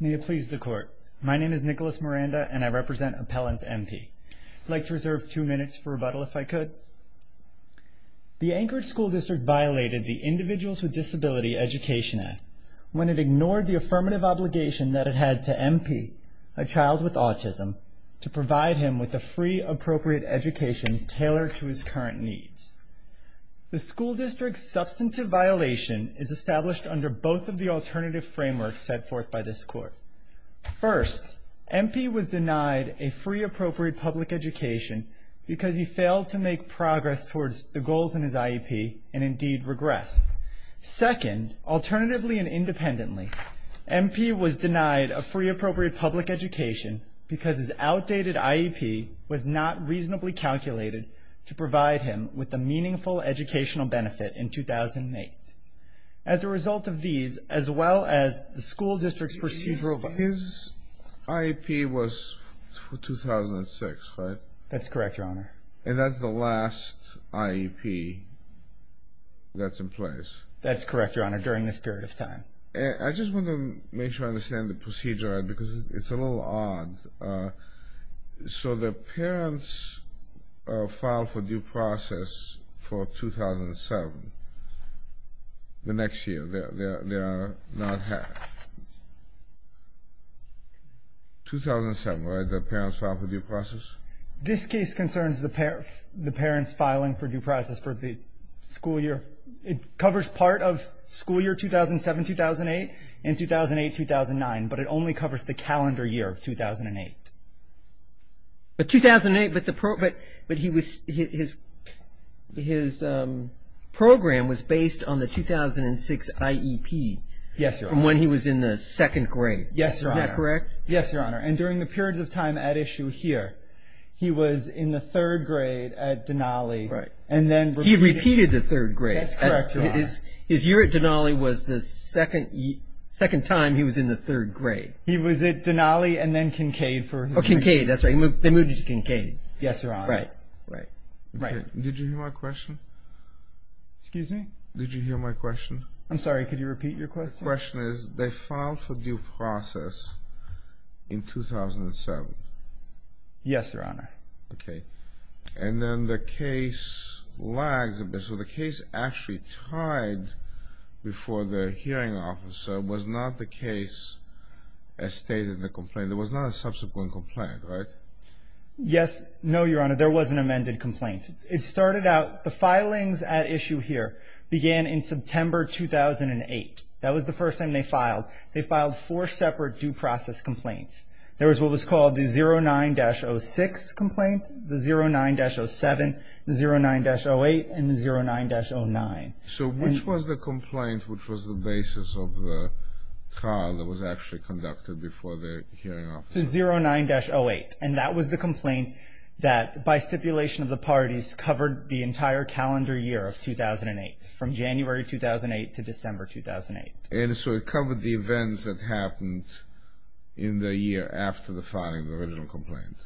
May it please the Court. My name is Nicholas Miranda and I represent Appellant M.P. I'd like to reserve two minutes for rebuttal if I could. The Anchorage School District violated the Individuals with Disability Education Act when it ignored the affirmative obligation that it had to M.P., a child with autism, to provide him with a free, appropriate education tailored to his current needs. The school district's substantive violation is established under both of the alternative frameworks set forth by this Court. First, M.P. was denied a free, appropriate public education because he failed to make progress towards the goals in his IEP and indeed regressed. Second, alternatively and independently, M.P. was denied a free, appropriate public education because his outdated IEP was not reasonably calculated to provide him with a meaningful educational benefit in 2008. As a result of these, as well as the school district's procedural violations... His IEP was 2006, right? That's correct, Your Honor. And that's the last IEP that's in place? That's correct, Your Honor, during this period of time. I just want to make sure I understand the procedure, because it's a little odd. So the parents filed for due process for 2007, the next year. They are not half. 2007, right? The parents filed for due process? This case concerns the parents filing for due process for the school year. It covers part of school year 2007-2008 and 2008-2009, but it only covers the calendar year of 2008. But 2008, but his program was based on the 2006 IEP. Yes, Your Honor. From when he was in the second grade. Yes, Your Honor. Is that correct? Yes, Your Honor. And during the periods of time at issue here, he was in the third grade at Denali and then... He did the third grade. That's correct, Your Honor. His year at Denali was the second time he was in the third grade. He was at Denali and then Kincaid for his... Oh, Kincaid, that's right. They moved him to Kincaid. Yes, Your Honor. Right. Right. Did you hear my question? Excuse me? Did you hear my question? I'm sorry, could you repeat your question? The question is, they filed for due process in 2007. Yes, Your Honor. Okay. And then the case lags a bit. So the case actually tied before the hearing officer was not the case as stated in the complaint. It was not a subsequent complaint, right? Yes. No, Your Honor. There was an amended complaint. It started out, the filings at issue here began in September 2008. That was the first time they filed. They filed four separate due process complaints. There was what was called the 09-06 complaint. The 09-07, the 09-08, and the 09-09. So which was the complaint which was the basis of the trial that was actually conducted before the hearing officer? The 09-08. And that was the complaint that, by stipulation of the parties, covered the entire calendar year of 2008, from January 2008 to December 2008. And so it covered the events that happened in the year after the filing of the original complaint,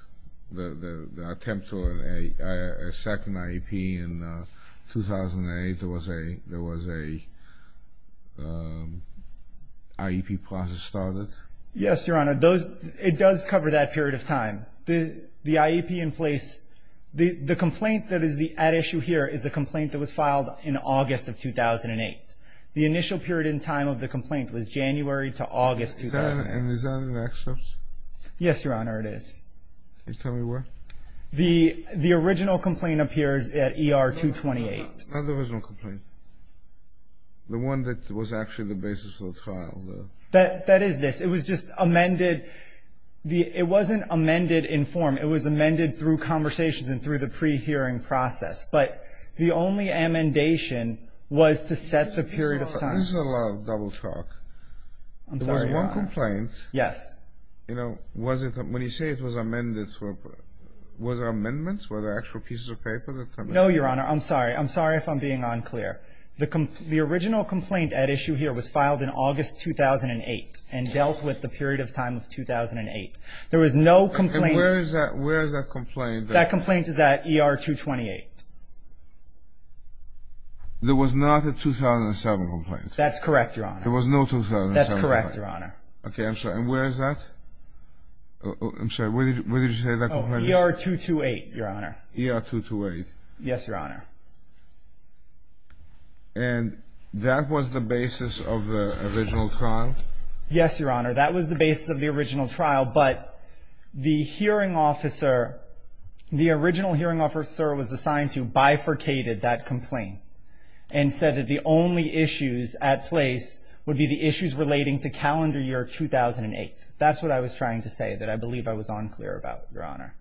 the attempt to a second IEP in 2008. There was a IEP process started. Yes, Your Honor. It does cover that period of time. The IEP in place, the complaint that is at issue here is the complaint that was filed in August of 2008. The initial period in time of the complaint was January to August 2008. Is that an excerpt? Yes, Your Honor, it is. Can you tell me where? The original complaint appears at ER 228. Not the original complaint. The one that was actually the basis of the trial. That is this. It was just amended. It wasn't amended in form. It was amended through conversations and through the pre-hearing process. But the only amendation was to set the period of time. This is a lot of double talk. I'm sorry, Your Honor. The original complaint. Yes. You know, when you say it was amended, was there amendments? Were there actual pieces of paper that come in? No, Your Honor. I'm sorry. I'm sorry if I'm being unclear. The original complaint at issue here was filed in August 2008 and dealt with the period of time of 2008. There was no complaint. And where is that complaint? That complaint is at ER 228. There was not a 2007 complaint. That's correct, Your Honor. There was no 2007 complaint. That's correct, Your Honor. Okay. I'm sorry. And where is that? I'm sorry. Where did you say that complaint is? ER 228, Your Honor. ER 228. Yes, Your Honor. And that was the basis of the original trial? Yes, Your Honor. That was the basis of the original trial. But the hearing officer, the original hearing officer was assigned to bifurcated that complaint and said that the only issues at place would be the issues relating to calendar year 2008. That's what I was trying to say that I believe I was unclear about, Your Honor.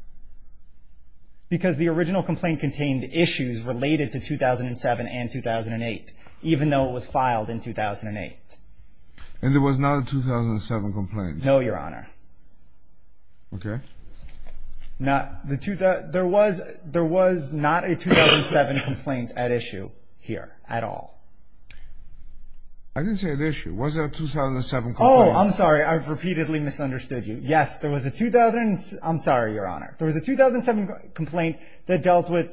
Because the original complaint contained issues related to 2007 and 2008, even though it was filed in 2008. And there was not a 2007 complaint? No, Your Honor. Okay. There was not a 2007 complaint at issue here at all. I didn't say at issue. Was there a 2007 complaint? Oh, I'm sorry. I've repeatedly misunderstood you. Yes, there was a 2007 complaint that dealt with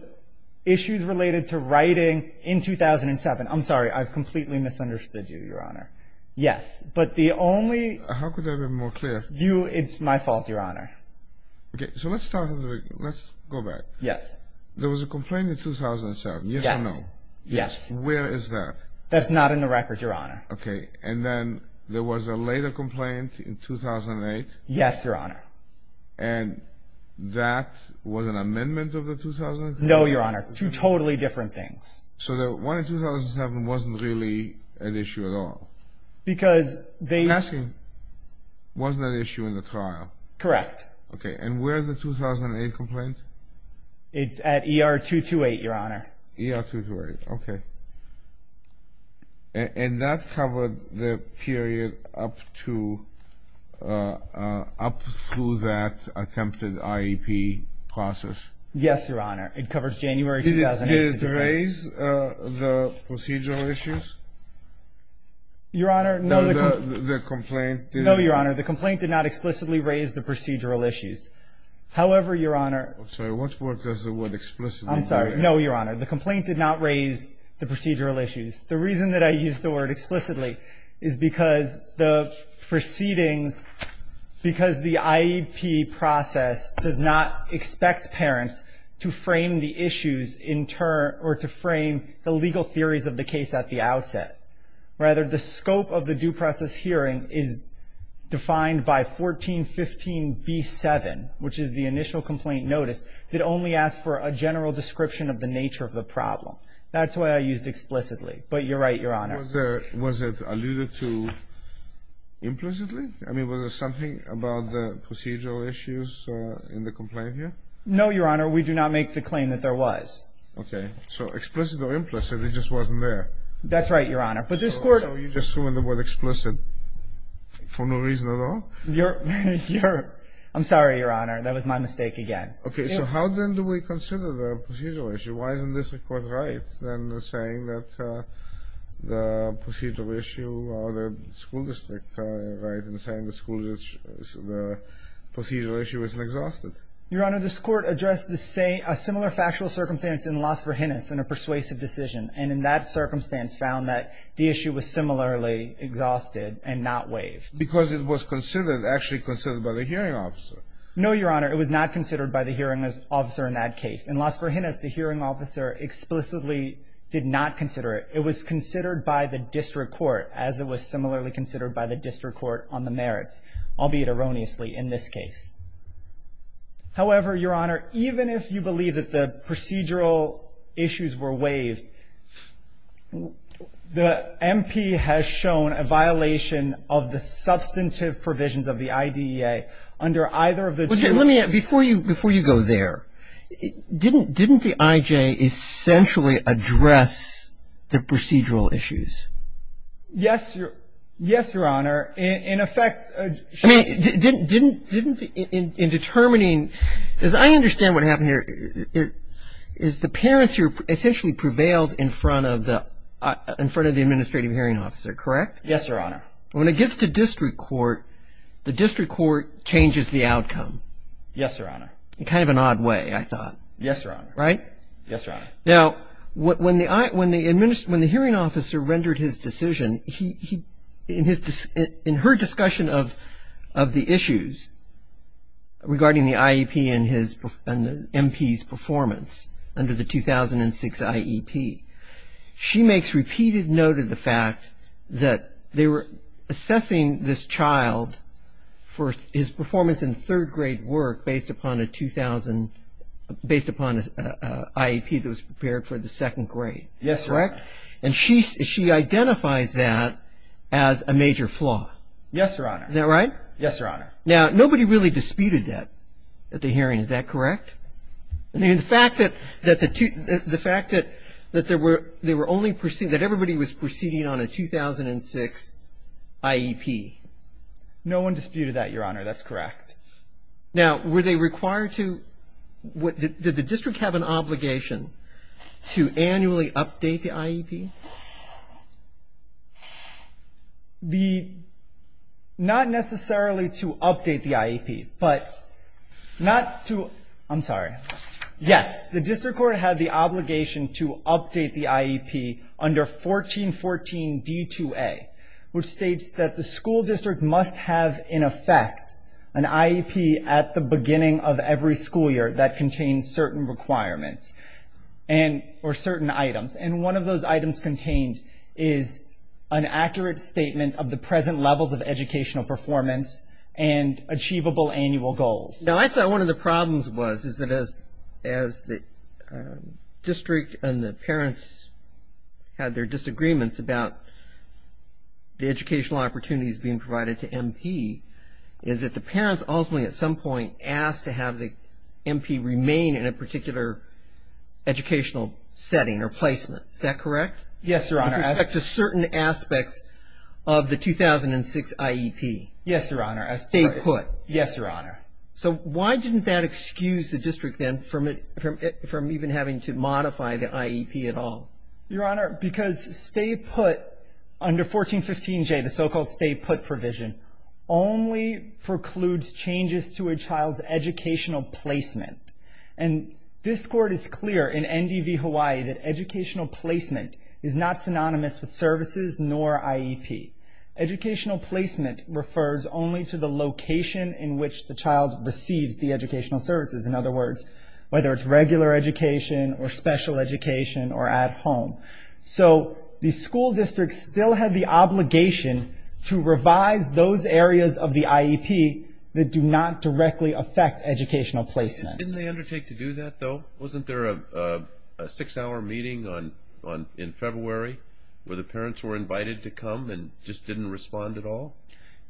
issues related to writing in 2007. I'm sorry. I've completely misunderstood you, Your Honor. Yes. But the only ---- How could I have been more clear? It's my fault, Your Honor. Okay. So let's start over. Let's go back. Yes. There was a complaint in 2007. Yes or no? Yes. Where is that? That's not in the record, Your Honor. Okay. And then there was a later complaint in 2008? Yes, Your Honor. And that was an amendment of the 2000? No, Your Honor. Two totally different things. So the one in 2007 wasn't really an issue at all? Because they ---- I'm asking, was that issue in the trial? Correct. Okay. And where is the 2008 complaint? It's at ER 228, Your Honor. ER 228. Okay. And that covered the period up to ---- up through that attempted IEP process? Yes, Your Honor. It covers January 2008. Did it raise the procedural issues? Your Honor, no. The complaint didn't? No, Your Honor. The complaint did not explicitly raise the procedural issues. However, Your Honor ---- I'm sorry. What word does the word explicitly use? I'm sorry. No, Your Honor. The complaint did not raise the procedural issues. The reason that I used the word explicitly is because the proceedings ---- because the IEP process does not expect parents to frame the issues in turn or to frame the legal theories of the case at the outset. Rather, the scope of the due process hearing is defined by 1415B7, which is the initial complaint notice, that only asks for a general description of the nature of the problem. That's why I used explicitly. But you're right, Your Honor. Was it alluded to implicitly? I mean, was there something about the procedural issues in the complaint here? No, Your Honor. We do not make the claim that there was. Okay. So explicit or implicit, it just wasn't there. That's right, Your Honor. But this Court ---- So you just threw in the word explicit for no reason at all? Your ---- I'm sorry, Your Honor. That was my mistake again. Okay. So how then do we consider the procedural issue? Why isn't this Court right in saying that the procedural issue or the school district right in saying the school district ---- the procedural issue isn't exhausted? Your Honor, this Court addressed the same ---- a similar factual circumstance in the loss for Hinnis in a persuasive decision. And in that circumstance found that the issue was similarly exhausted and not waived. Because it was considered, actually considered by the hearing officer. No, Your Honor. It was not considered by the hearing officer in that case. In loss for Hinnis, the hearing officer explicitly did not consider it. It was considered by the district court, as it was similarly considered by the district court on the merits, albeit erroneously, in this case. However, Your Honor, even if you believe that the procedural issues were waived, the MP has shown a violation of the substantive provisions of the IDEA under either of the two ---- Okay. Let me ---- before you go there, didn't the IJ essentially address the procedural issues? Yes, Your Honor. In effect ---- I mean, didn't in determining, as I understand what happened here, is the parents essentially prevailed in front of the administrative hearing officer, correct? Yes, Your Honor. When it gets to district court, the district court changes the outcome. Yes, Your Honor. In kind of an odd way, I thought. Yes, Your Honor. Right? Yes, Your Honor. Now, when the hearing officer rendered his decision, in her discussion of the issues regarding the IEP and the MP's performance under the 2006 IEP, she makes repeated note of the fact that they were assessing this child for his performance in third grade work based upon a 2000 ---- based upon an IEP that was prepared for the second grade. Yes, Your Honor. And she identifies that as a major flaw. Yes, Your Honor. Isn't that right? Yes, Your Honor. Now, nobody really disputed that at the hearing. Is that correct? I mean, the fact that there were only ---- that everybody was proceeding on a 2006 IEP. No one disputed that, Your Honor. That's correct. What was the purpose of the IEP? The ---- not necessarily to update the IEP, but not to ---- I'm sorry. Yes. The district court had the obligation to update the IEP under 1414 D2A, which states that the school district must have, in effect, an IEP at the beginning of every school year that contains certain requirements or certain items. And one of those items contained is an accurate statement of the present levels of educational performance and achievable annual goals. Now, I thought one of the problems was is that as the district and the parents had their disagreements about the educational opportunities being provided to MP, is that the parents ultimately at some point asked to have the MP remain in a particular educational setting or placement. Is that correct? Yes, Your Honor. With respect to certain aspects of the 2006 IEP. Yes, Your Honor. Stay put. Yes, Your Honor. So why didn't that excuse the district then from even having to modify the IEP at all? Your Honor, because stay put under 1415 J, the so-called stay put provision, only precludes changes to a child's educational placement. And this Court is clear in NDV Hawaii that educational placement is not synonymous with services nor IEP. Educational placement refers only to the location in which the child receives the educational services. In other words, whether it's regular education or special education or at home. So the school district still had the obligation to revise those areas of the IEP that do not directly affect educational placement. Didn't they undertake to do that, though? Wasn't there a six-hour meeting in February where the parents were invited to come and just didn't respond at all?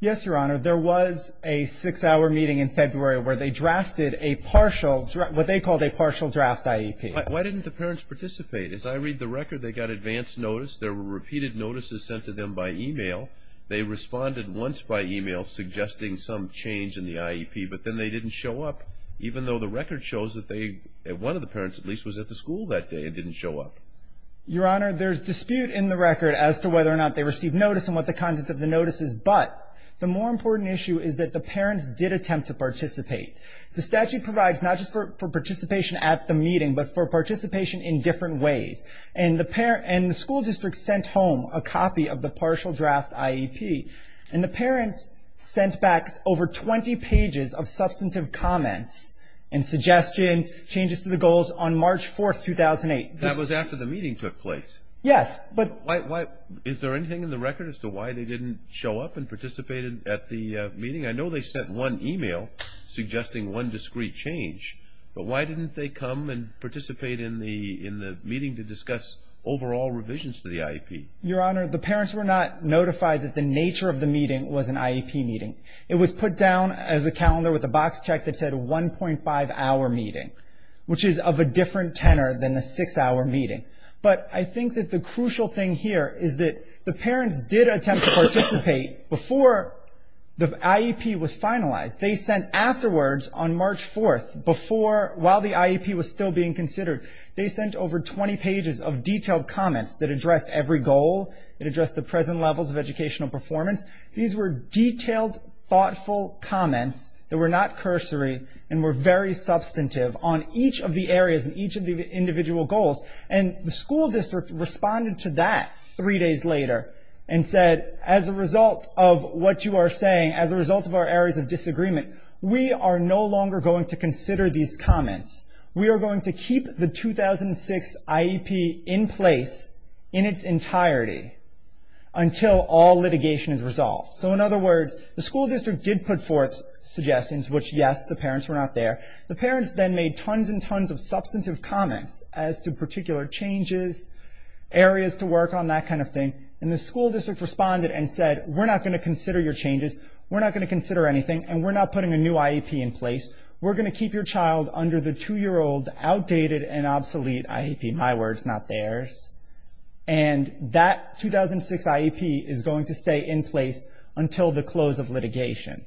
Yes, Your Honor. There was a six-hour meeting in February where they drafted a partial, what they called a partial draft IEP. Why didn't the parents participate? As I read the record, they got advance notice. There were repeated notices sent to them by e-mail. They responded once by e-mail suggesting some change in the IEP, but then they didn't show up, even though the record shows that they, one of the parents at least, was at the school that day and didn't show up. Your Honor, there's dispute in the record as to whether or not they received notice and what the content of the notice is. But the more important issue is that the parents did attempt to participate. The statute provides not just for participation at the meeting, but for participation in different ways. And the school district sent home a copy of the partial draft IEP, and the parents sent back over 20 pages of substantive comments and suggestions, changes to the goals on March 4, 2008. That was after the meeting took place? Yes. Is there anything in the record as to why they didn't show up and participate at the meeting? I know they sent one e-mail suggesting one discrete change, but why didn't they come and participate in the meeting to discuss overall revisions to the IEP? Your Honor, the parents were not notified that the nature of the meeting was an IEP meeting. It was put down as a calendar with a box check that said 1.5-hour meeting, which is of a different tenor than the 6-hour meeting. But I think that the crucial thing here is that the parents did attempt to participate before the IEP was finalized. They sent afterwards on March 4, before, while the IEP was still being considered, they sent over 20 pages of detailed comments that addressed every goal, that addressed the present levels of educational performance. These were detailed, thoughtful comments that were not cursory and were very substantive on each of the areas and each of the individual goals. And the school district responded to that three days later and said, as a result of what you are saying, as a result of our areas of disagreement, we are no longer going to consider these comments. We are going to keep the 2006 IEP in place in its entirety until all litigation is resolved. So in other words, the school district did put forth suggestions, which, yes, the parents were not there. The parents then made tons and tons of substantive comments as to particular changes, areas to work on, that kind of thing. And the school district responded and said, we're not going to consider your changes. We're not going to consider anything. And we're not putting a new IEP in place. We're going to keep your child under the two-year-old outdated and obsolete IEP. My words, not theirs. And that 2006 IEP is going to stay in place until the close of litigation.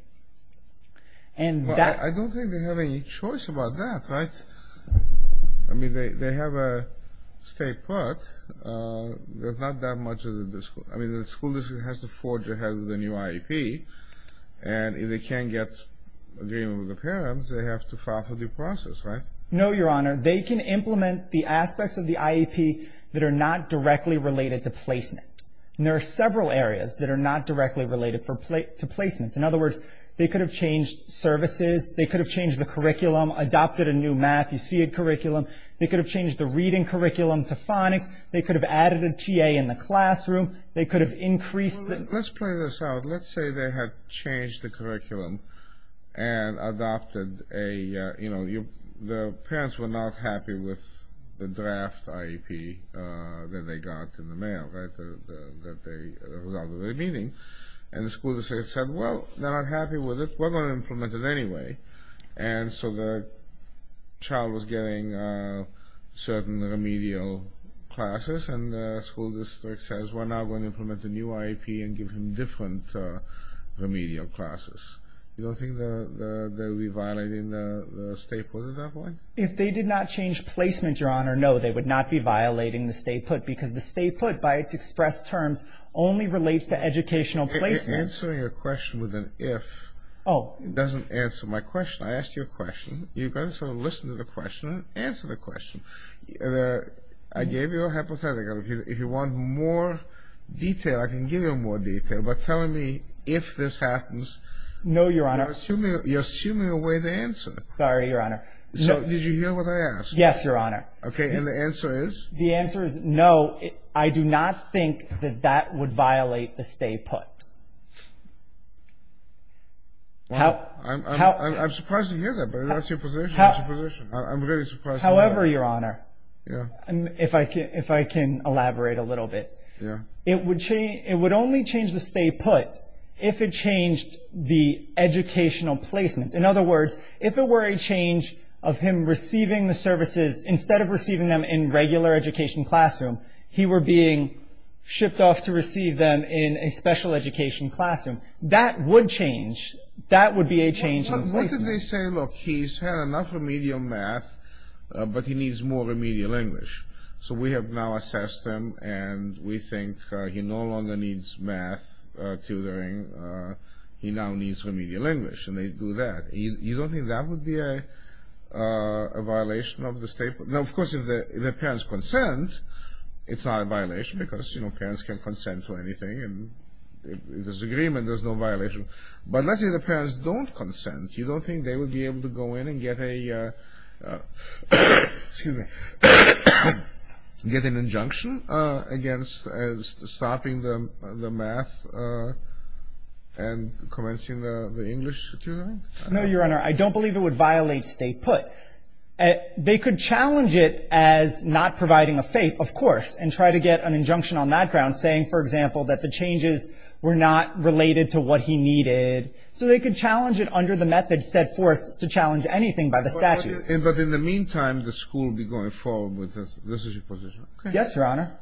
I don't think they have any choice about that, right? I mean, they have a state put. There's not that much of the school. I mean, the school district has to forge ahead with a new IEP. And if they can't get agreement with the parents, they have to file for due process, right? No, Your Honor. They can implement the aspects of the IEP that are not directly related to placement. And there are several areas that are not directly related to placement. In other words, they could have changed services. They could have changed the curriculum, adopted a new math. You see a curriculum. They could have changed the reading curriculum to phonics. They could have added a TA in the classroom. They could have increased the- Let's play this out. Let's say they had changed the curriculum and adopted a, you know, the parents were not happy with the draft IEP that they got in the mail, right, that they resolved at the meeting. And the school district said, well, they're not happy with it. We're going to implement it anyway. And so the child was getting certain remedial classes, and the school district says we're now going to implement the new IEP and give him different remedial classes. You don't think they would be violating the stay put at that point? If they did not change placement, Your Honor, no, they would not be violating the stay put, because the stay put, by its expressed terms, only relates to educational placement. You're answering a question with an if. Oh. It doesn't answer my question. I asked you a question. You've got to sort of listen to the question and answer the question. I gave you a hypothetical. If you want more detail, I can give you more detail, but tell me if this happens. No, Your Honor. You're assuming away the answer. Sorry, Your Honor. So did you hear what I asked? Yes, Your Honor. Okay. And the answer is? The answer is no. I do not think that that would violate the stay put. I'm surprised to hear that, but that's your position. That's your position. I'm really surprised to hear that. However, Your Honor, if I can elaborate a little bit, it would only change the stay put if it changed the educational placement. In other words, if it were a change of him receiving the services, instead of receiving them in regular education classroom, he were being shipped off to receive them in a special education classroom. That would change. That would be a change in placement. What if they say, look, he's had enough remedial math, but he needs more remedial English. So we have now assessed him, and we think he no longer needs math tutoring. He now needs remedial English, and they do that. You don't think that would be a violation of the stay put? Now, of course, if the parents consent, it's not a violation because, you know, parents can consent to anything, and if there's agreement, there's no violation. But let's say the parents don't consent. You don't think they would be able to go in and get a, excuse me, get an injunction against stopping the math and commencing the English tutoring? No, Your Honor, I don't believe it would violate stay put. They could challenge it as not providing a faith, of course, and try to get an injunction on that ground saying, for example, that the changes were not related to what he needed. So they could challenge it under the method set forth to challenge anything by the statute. But in the meantime, the school would be going forward with this. This is your position. Yes, Your Honor.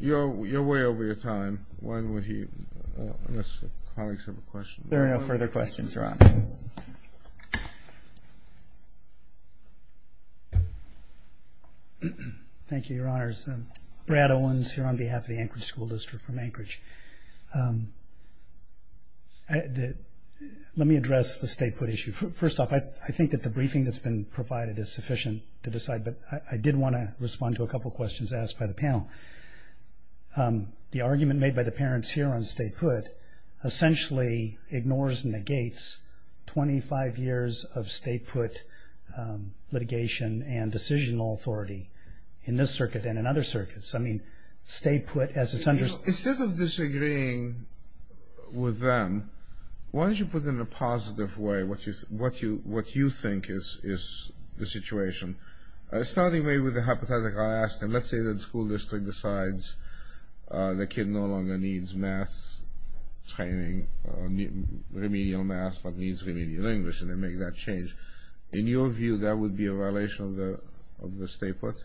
You're way over your time. Unless colleagues have a question. There are no further questions, Your Honor. Thank you, Your Honors. Brad Owens here on behalf of the Anchorage School District from Anchorage. Let me address the stay put issue. First off, I think that the briefing that's been provided is sufficient to decide, but I did want to respond to a couple of questions asked by the panel. The argument made by the parents here on stay put essentially ignores and negates 25 years of stay put litigation and decisional authority in this circuit and in other circuits. I mean, stay put as it's understood. Instead of disagreeing with them, why don't you put in a positive way what you think is the situation. Starting maybe with the hypothetical I asked, and let's say the school district decides the kid no longer needs math training, remedial math but needs remedial English, and they make that change. In your view, that would be a violation of the stay put?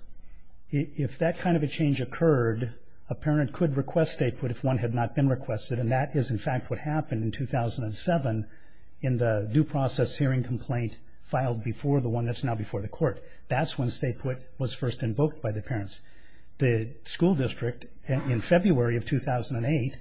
If that kind of a change occurred, a parent could request stay put if one had not been requested, and that is in fact what happened in 2007 in the due process hearing complaint filed before the one that's now before the court. That's when stay put was first invoked by the parents. The school district in February of 2008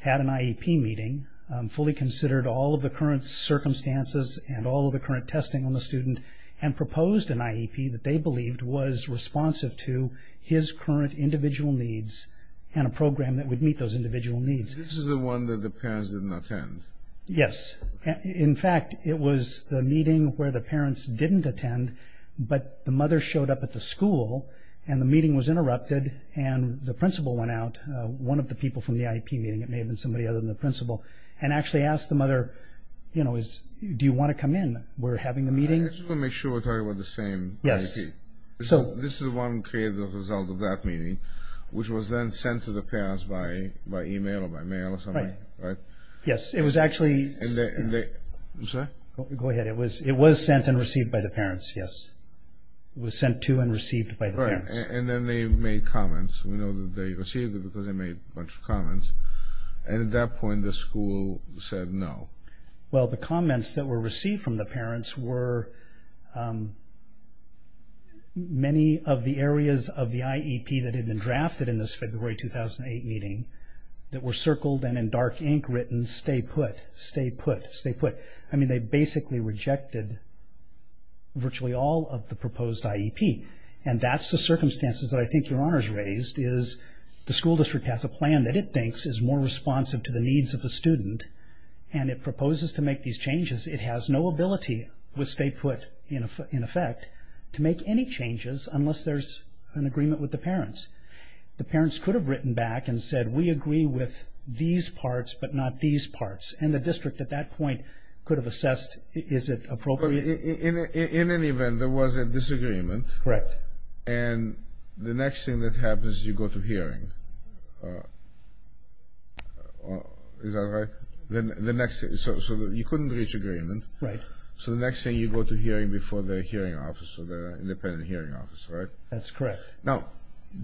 had an IEP meeting, fully considered all of the current circumstances and all of the current testing on the student, and proposed an IEP that they believed was responsive to his current individual needs and a program that would meet those individual needs. This is the one that the parents did not attend? Yes. In fact, it was the meeting where the parents didn't attend, but the mother showed up at the school and the meeting was interrupted and the principal went out, one of the people from the IEP meeting, it may have been somebody other than the principal, and actually asked the mother, you know, do you want to come in? We're having a meeting. I just want to make sure we're talking about the same IEP. Yes. This is the one created as a result of that meeting, which was then sent to the parents by email or by mail or something, right? Right. Yes, it was actually sent. I'm sorry? Go ahead. It was sent and received by the parents, yes. It was sent to and received by the parents. Right, and then they made comments. We know that they received it because they made a bunch of comments, and at that point the school said no. Well, the comments that were received from the parents were many of the areas of the IEP that had been drafted in this February 2008 meeting that were circled and in dark ink written, stay put, stay put, stay put. I mean, they basically rejected virtually all of the proposed IEP, and that's the circumstances that I think your honors raised, is the school district has a plan that it thinks is more responsive to the needs of the student, and it proposes to make these changes. It has no ability with stay put in effect to make any changes unless there's an agreement with the parents. The parents could have written back and said we agree with these parts but not these parts, and the district at that point could have assessed is it appropriate. In any event, there was a disagreement. Correct. And the next thing that happens is you go to hearing. Is that right? So you couldn't reach agreement. Right. So the next thing you go to hearing before the hearing office or the independent hearing office, right? That's correct. Now,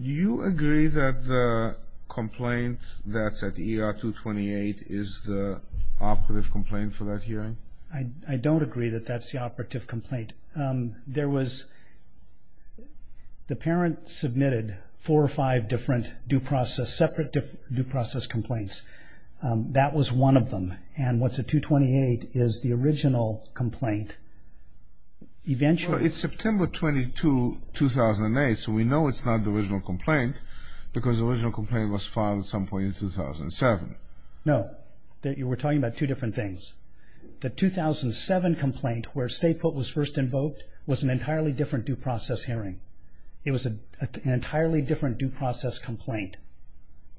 do you agree that the complaint that's at ER 228 is the operative complaint for that hearing? I don't agree that that's the operative complaint. There was the parent submitted four or five different due process, separate due process complaints. That was one of them, and what's at 228 is the original complaint. It's September 22, 2008, so we know it's not the original complaint because the original complaint was filed at some point in 2007. No. You were talking about two different things. The 2007 complaint where stay put was first invoked was an entirely different due process hearing. It was an entirely different due process complaint.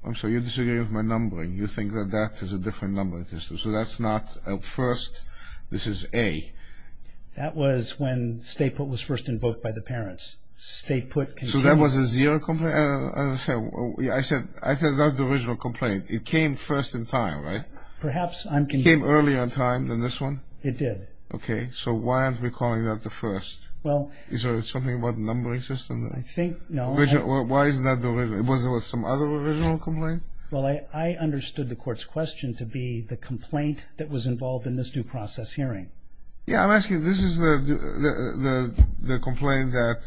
I'm sorry. You're disagreeing with my numbering. You think that that is a different number. So that's not a first. This is A. That was when stay put was first invoked by the parents. So that was a zero complaint? I said that's the original complaint. It came first in time, right? It came earlier in time than this one? It did. Okay. So why aren't we calling that the first? Is there something about the numbering system? I think no. Why isn't that the original? Was there some other original complaint? Well, I understood the court's question to be the complaint that was involved in this due process hearing. Yeah, I'm asking, this is the complaint that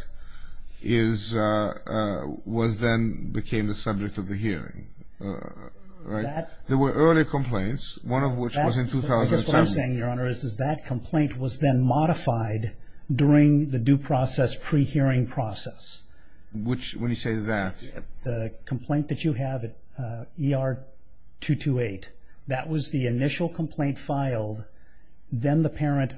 was then became the subject of the hearing, right? There were earlier complaints, one of which was in 2007. I guess what I'm saying, Your Honor, is that complaint was then modified during the due process pre-hearing process. Which, when you say that. The complaint that you have at ER 228, that was the initial complaint filed. Then the parent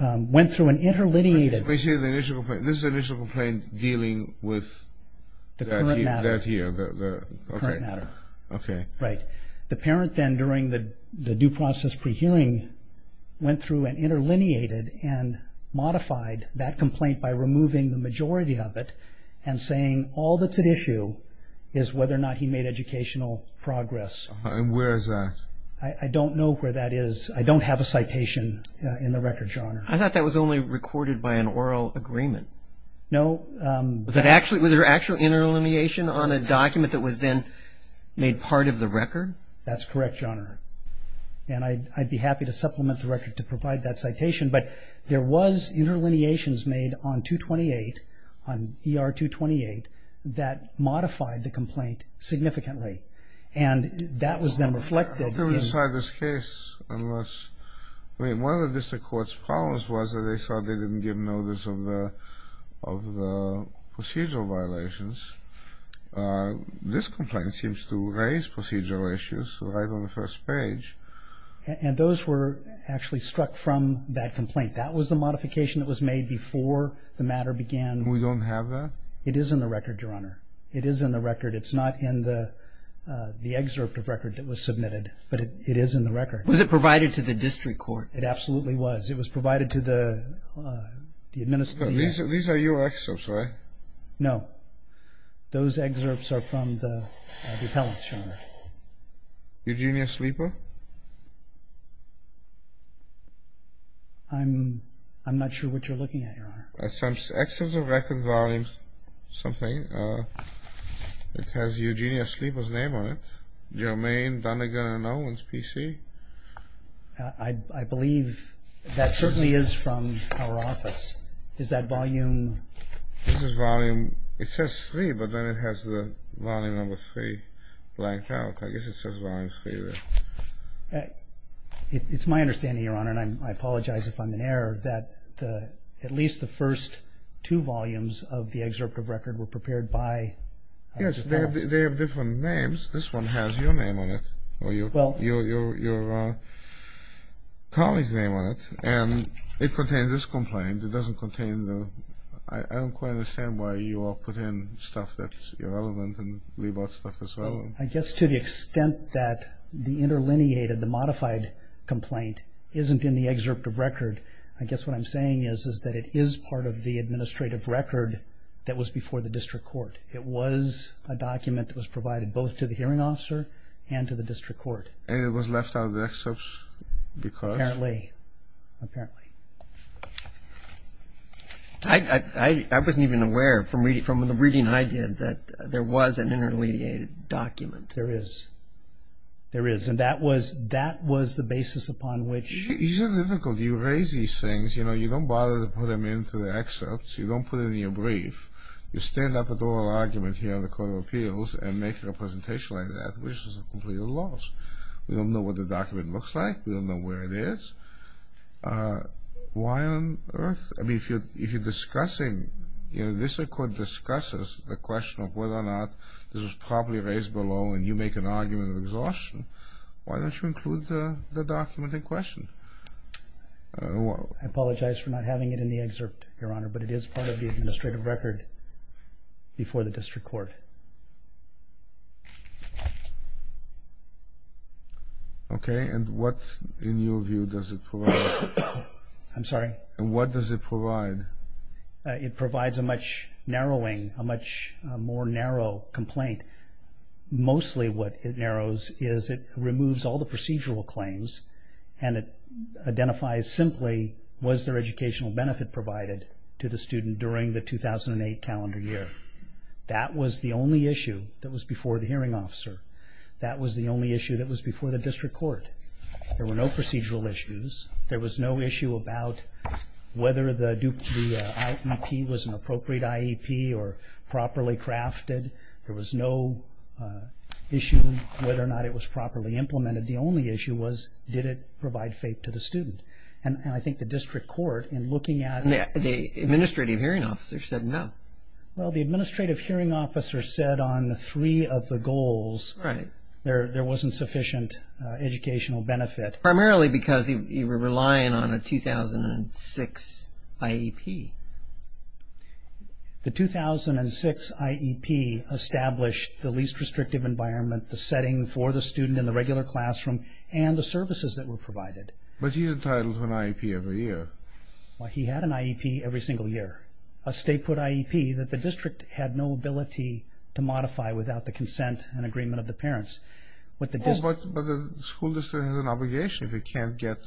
went through an interlineated. Wait a second. This is the initial complaint dealing with that here? The current matter. Okay. Right. The parent then, during the due process pre-hearing, went through an interlineated and modified that complaint by removing the majority of it and saying, all that's at issue is whether or not he made educational progress. And where is that? I don't know where that is. I don't have a citation in the record, Your Honor. I thought that was only recorded by an oral agreement. No. Was there actual interlineation on a document that was then made part of the record? That's correct, Your Honor. And I'd be happy to supplement the record to provide that citation. But there was interlineations made on 228, on ER 228, that modified the complaint significantly. And that was then reflected in. I can't decide this case unless. I mean, one of the district court's problems was that they thought they didn't give notice of the procedural violations. This complaint seems to raise procedural issues right on the first page. And those were actually struck from that complaint. That was the modification that was made before the matter began. We don't have that? It is in the record, Your Honor. It is in the record. It's not in the excerpt of record that was submitted, but it is in the record. Was it provided to the district court? It absolutely was. It was provided to the administrative. These are your excerpts, right? No. Those excerpts are from the appellate, Your Honor. Eugenia Sleeper? I'm not sure what you're looking at, Your Honor. That's an excerpt of record volume something. It has Eugenia Sleeper's name on it. Jermaine Donegan and Owens, PC. I believe that certainly is from our office. Is that volume? This is volume. It says 3, but then it has the volume number 3 blanked out. I guess it says volume 3 there. It's my understanding, Your Honor, and I apologize if I'm in error, that at least the first two volumes of the excerpt of record were prepared by the district court. Yes. They have different names. This one has your name on it or your colleague's name on it, and it contains this complaint. I don't quite understand why you all put in stuff that's irrelevant and leave out stuff that's relevant. I guess to the extent that the interlineated, the modified complaint, isn't in the excerpt of record, I guess what I'm saying is that it is part of the administrative record that was before the district court. It was a document that was provided both to the hearing officer and to the district court. And it was left out of the excerpts because? Apparently. I wasn't even aware from the reading I did that there was an interlineated document. There is. There is. And that was the basis upon which? It's difficult. You raise these things. You know, you don't bother to put them into the excerpts. You don't put it in your brief. You stand up at the oral argument here in the Court of Appeals and make a presentation like that, which is a complete loss. We don't know what the document looks like. We don't know where it is. Why on earth? I mean, if you're discussing, you know, this record discusses the question of whether or not this was properly raised below and you make an argument of exhaustion, why don't you include the document in question? I apologize for not having it in the excerpt, Your Honor, but it is part of the administrative record before the district court. Okay. And what, in your view, does it provide? I'm sorry? And what does it provide? It provides a much narrowing, a much more narrow complaint. Mostly what it narrows is it removes all the procedural claims and it identifies simply, was there educational benefit provided to the student during the 2008 calendar year? That was the only issue that was before the hearing officer. That was the only issue that was before the district court. There were no procedural issues. There was no issue about whether the IEP was an appropriate IEP or properly crafted. There was no issue whether or not it was properly implemented. The only issue was, did it provide faith to the student? And I think the district court, in looking at it... The administrative hearing officer said no. Well, the administrative hearing officer said on three of the goals... Right. ...there wasn't sufficient educational benefit. Primarily because you were relying on a 2006 IEP. The 2006 IEP established the least restrictive environment, the setting for the student in the regular classroom, and the services that were provided. But he's entitled to an IEP every year. Well, he had an IEP every single year. A state put IEP that the district had no ability to modify without the consent and agreement of the parents. But the school district has an obligation. If it can't get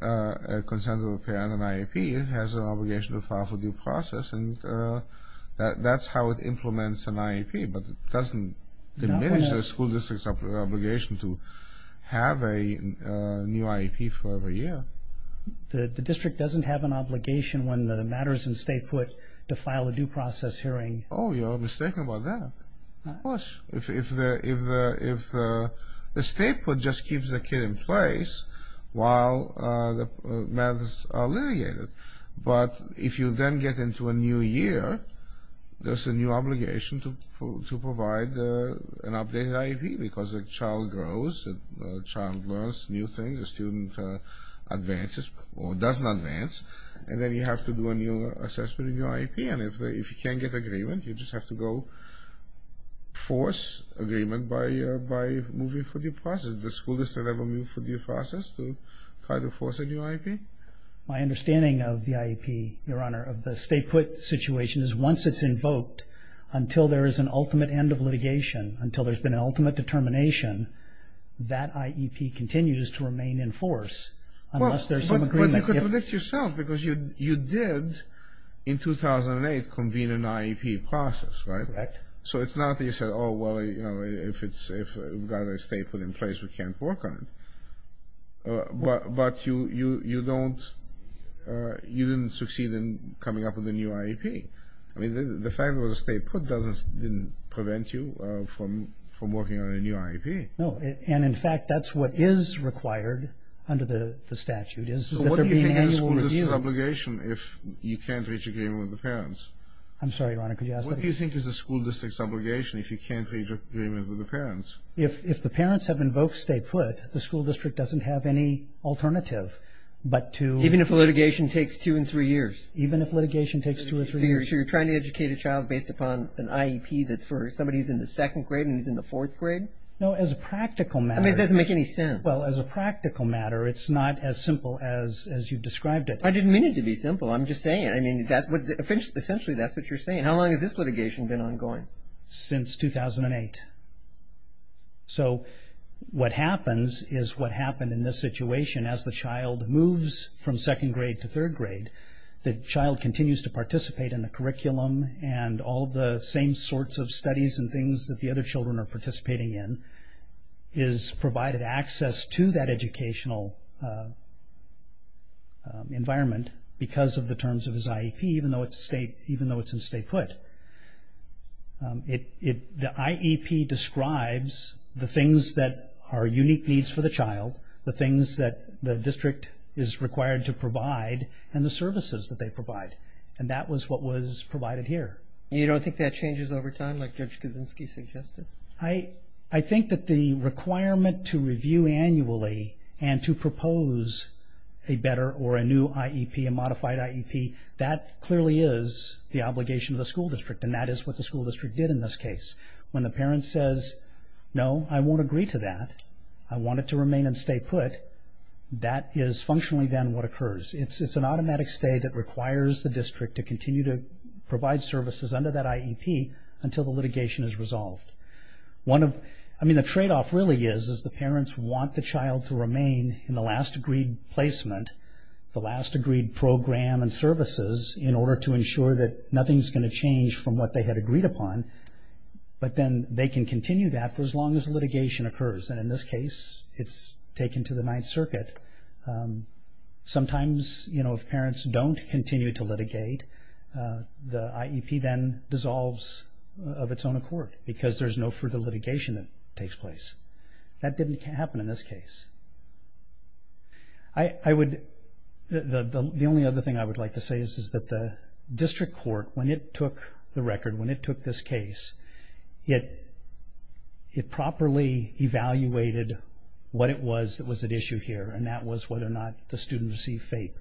a consent of a parent, an IEP, it has an obligation to file for due process, and that's how it implements an IEP. But it doesn't diminish the school district's obligation to have a new IEP for every year. The district doesn't have an obligation when the matter is in state put to file a due process hearing. Oh, you're mistaken about that. Of course. If the state put just keeps the kid in place while the matters are litigated. But if you then get into a new year, there's a new obligation to provide an updated IEP because a child grows, a child learns new things, a student advances or doesn't advance, and then you have to do a new assessment in your IEP. And if you can't get agreement, you just have to go force agreement by moving for due process. The school district will move for due process to try to force a new IEP. My understanding of the IEP, Your Honor, of the state put situation, is once it's invoked, until there is an ultimate end of litigation, until there's been an ultimate determination, that IEP continues to remain in force unless there's some agreement. But you could predict yourself, because you did in 2008 convene an IEP process, right? Correct. So it's not that you said, oh, well, if we've got a state put in place, we can't work on it. But you didn't succeed in coming up with a new IEP. I mean, the fact that it was a state put didn't prevent you from working on a new IEP. No. And, in fact, that's what is required under the statute, is that there be an annual review. So what do you think is the school district's obligation if you can't reach agreement with the parents? I'm sorry, Your Honor, could you ask that again? What do you think is the school district's obligation if you can't reach agreement with the parents? If the parents have invoked state put, the school district doesn't have any alternative but to… Even if litigation takes two and three years. Even if litigation takes two or three years. So you're trying to educate a child based upon an IEP that's for somebody who's in the second grade and who's in the fourth grade? No, as a practical matter. I mean, it doesn't make any sense. Well, as a practical matter, it's not as simple as you've described it. I didn't mean it to be simple. I'm just saying. I mean, essentially that's what you're saying. How long has this litigation been ongoing? Since 2008. So what happens is what happened in this situation, as the child moves from second grade to third grade, the child continues to participate in the curriculum and all the same sorts of studies and things that the other children are participating in is provided access to that educational environment because of the terms of his IEP, even though it's in state put. The IEP describes the things that are unique needs for the child, the things that the district is required to provide, and the services that they provide. And that was what was provided here. You don't think that changes over time like Judge Kaczynski suggested? I think that the requirement to review annually and to propose a better or a new IEP, a modified IEP, that clearly is the obligation of the school district, and that is what the school district did in this case. When the parent says, no, I won't agree to that, I want it to remain in state put, that is functionally then what occurs. It's an automatic stay that requires the district to continue to provide services under that IEP until the litigation is resolved. The tradeoff really is the parents want the child to remain in the last agreed placement, the last agreed program and services, in order to ensure that nothing is going to change from what they had agreed upon, but then they can continue that for as long as litigation occurs. And in this case, it's taken to the Ninth Circuit. Sometimes, you know, if parents don't continue to litigate, the IEP then dissolves of its own accord because there's no further litigation that takes place. That didn't happen in this case. The only other thing I would like to say is that the district court, when it took the record, when it took this case, it properly evaluated what it was that was at issue here, and that was whether or not the student received FAPE.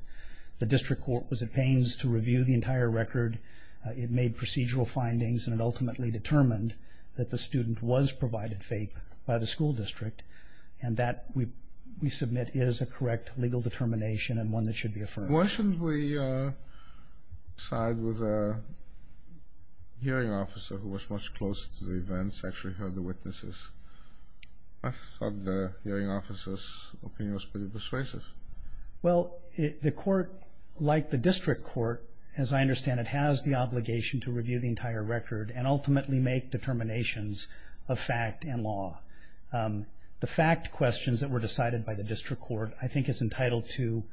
The district court was at pains to review the entire record. It made procedural findings, and it ultimately determined that the student was provided FAPE by the school district, and that, we submit, is a correct legal determination and one that should be affirmed. Why shouldn't we side with a hearing officer who was much closer to the events, actually heard the witnesses? I thought the hearing officer's opinion was pretty persuasive. Well, the court, like the district court, as I understand it, has the obligation to review the entire record and ultimately make determinations of fact and law. The fact questions that were decided by the district court I think is entitled to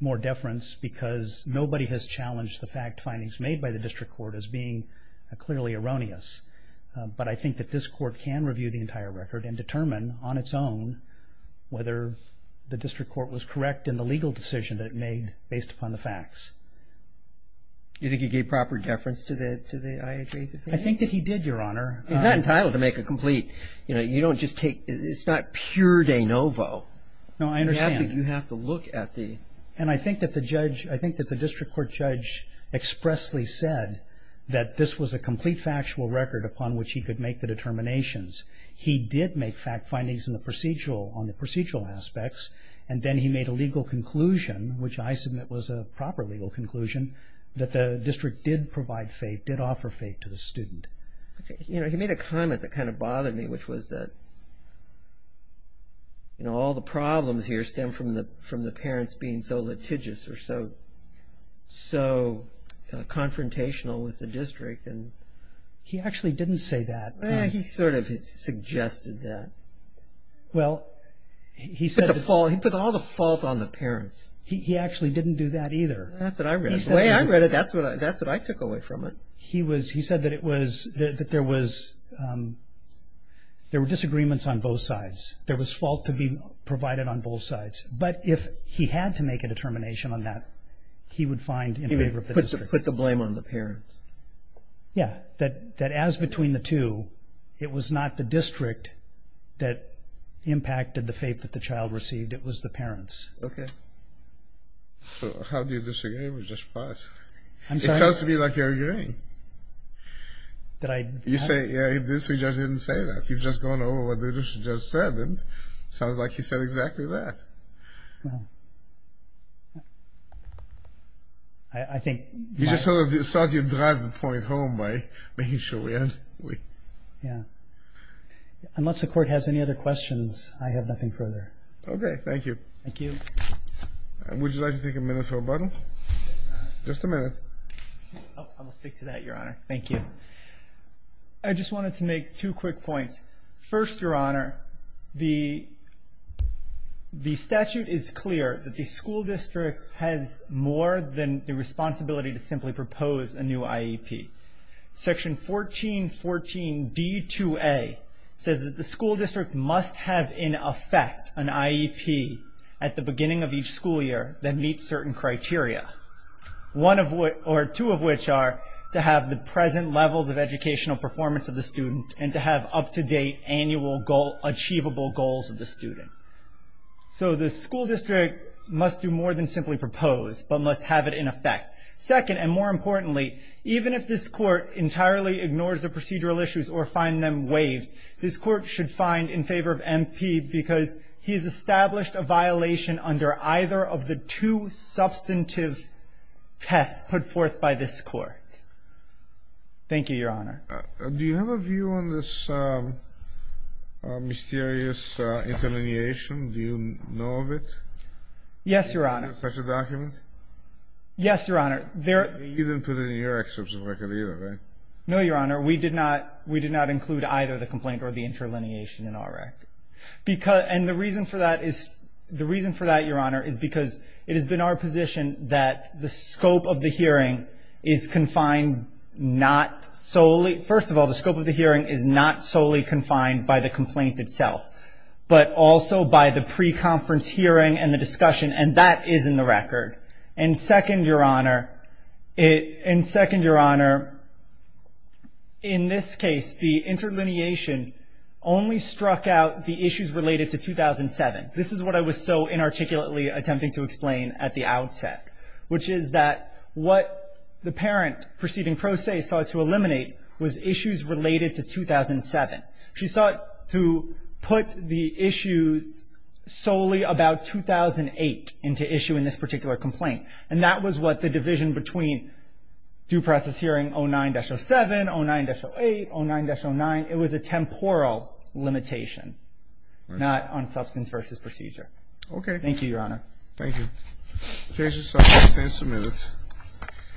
more deference because nobody has challenged the fact findings made by the district court as being clearly erroneous. But I think that this court can review the entire record and determine on its own whether the district court was correct in the legal decision that it made based upon the facts. Do you think he gave proper deference to the IHRA's opinion? I think that he did, Your Honor. He's not entitled to make a complete, you know, you don't just take, it's not pure de novo. No, I understand. You have to look at the... And I think that the judge, I think that the district court judge expressly said that this was a complete factual record upon which he could make the determinations. He did make fact findings on the procedural aspects and then he made a legal conclusion, which I submit was a proper legal conclusion, that the district did provide faith, did offer faith to the student. You know, he made a comment that kind of bothered me, which was that, you know, all the problems here stem from the parents being so litigious or so confrontational with the district. He actually didn't say that. He sort of suggested that. Well, he said... He put all the fault on the parents. He actually didn't do that either. That's what I read. The way I read it, that's what I took away from it. He said that there were disagreements on both sides. There was fault to be provided on both sides. But if he had to make a determination on that, he would find in favor of the district. He would put the blame on the parents. Yeah, that as between the two, it was not the district that impacted the faith that the child received. It was the parents. Okay. So how do you disagree with Judge Paz? It sounds to me like you're agreeing. You say, yeah, the district judge didn't say that. You've just gone over what the district judge said, didn't you? It sounds like he said exactly that. Well, I think... You just thought you'd drive the point home by making sure we had... Yeah. Unless the Court has any other questions, I have nothing further. Okay, thank you. Thank you. Would you like to take a minute for rebuttal? Just a minute. I'll stick to that, Your Honor. Thank you. I just wanted to make two quick points. First, Your Honor, the statute is clear that the school district has more than the responsibility to simply propose a new IEP. Section 1414d2a says that the school district must have in effect an IEP at the beginning of each school year that meets certain criteria, two of which are to have the present levels of educational performance of the student and to have up-to-date annual achievable goals of the student. So the school district must do more than simply propose but must have it in effect. Second, and more importantly, even if this Court entirely ignores the procedural issues or finds them waived, this Court should find in favor of MP because he has established a violation under either of the two substantive tests put forth by this Court. Thank you, Your Honor. Do you have a view on this mysterious interlineation? Do you know of it? Yes, Your Honor. Is there such a document? Yes, Your Honor. You didn't put it in your excerpts of record either, right? No, Your Honor. We did not include either the complaint or the interlineation in our record. And the reason for that, Your Honor, is because it has been our position that the scope of the hearing is confined not solely, first of all, the scope of the hearing is not solely confined by the complaint itself, but also by the pre-conference hearing and the discussion, and that is in the record. And second, Your Honor, in this case, the interlineation only struck out the issues related to 2007. This is what I was so inarticulately attempting to explain at the outset, which is that what the parent proceeding pro se sought to eliminate was issues related to 2007. She sought to put the issues solely about 2008 into issue in this particular complaint. And that was what the division between due process hearing 09-07, 09-08, 09-09, it was a temporal limitation, not on substance versus procedure. Okay. Thank you, Your Honor. Thank you. The case is submitted.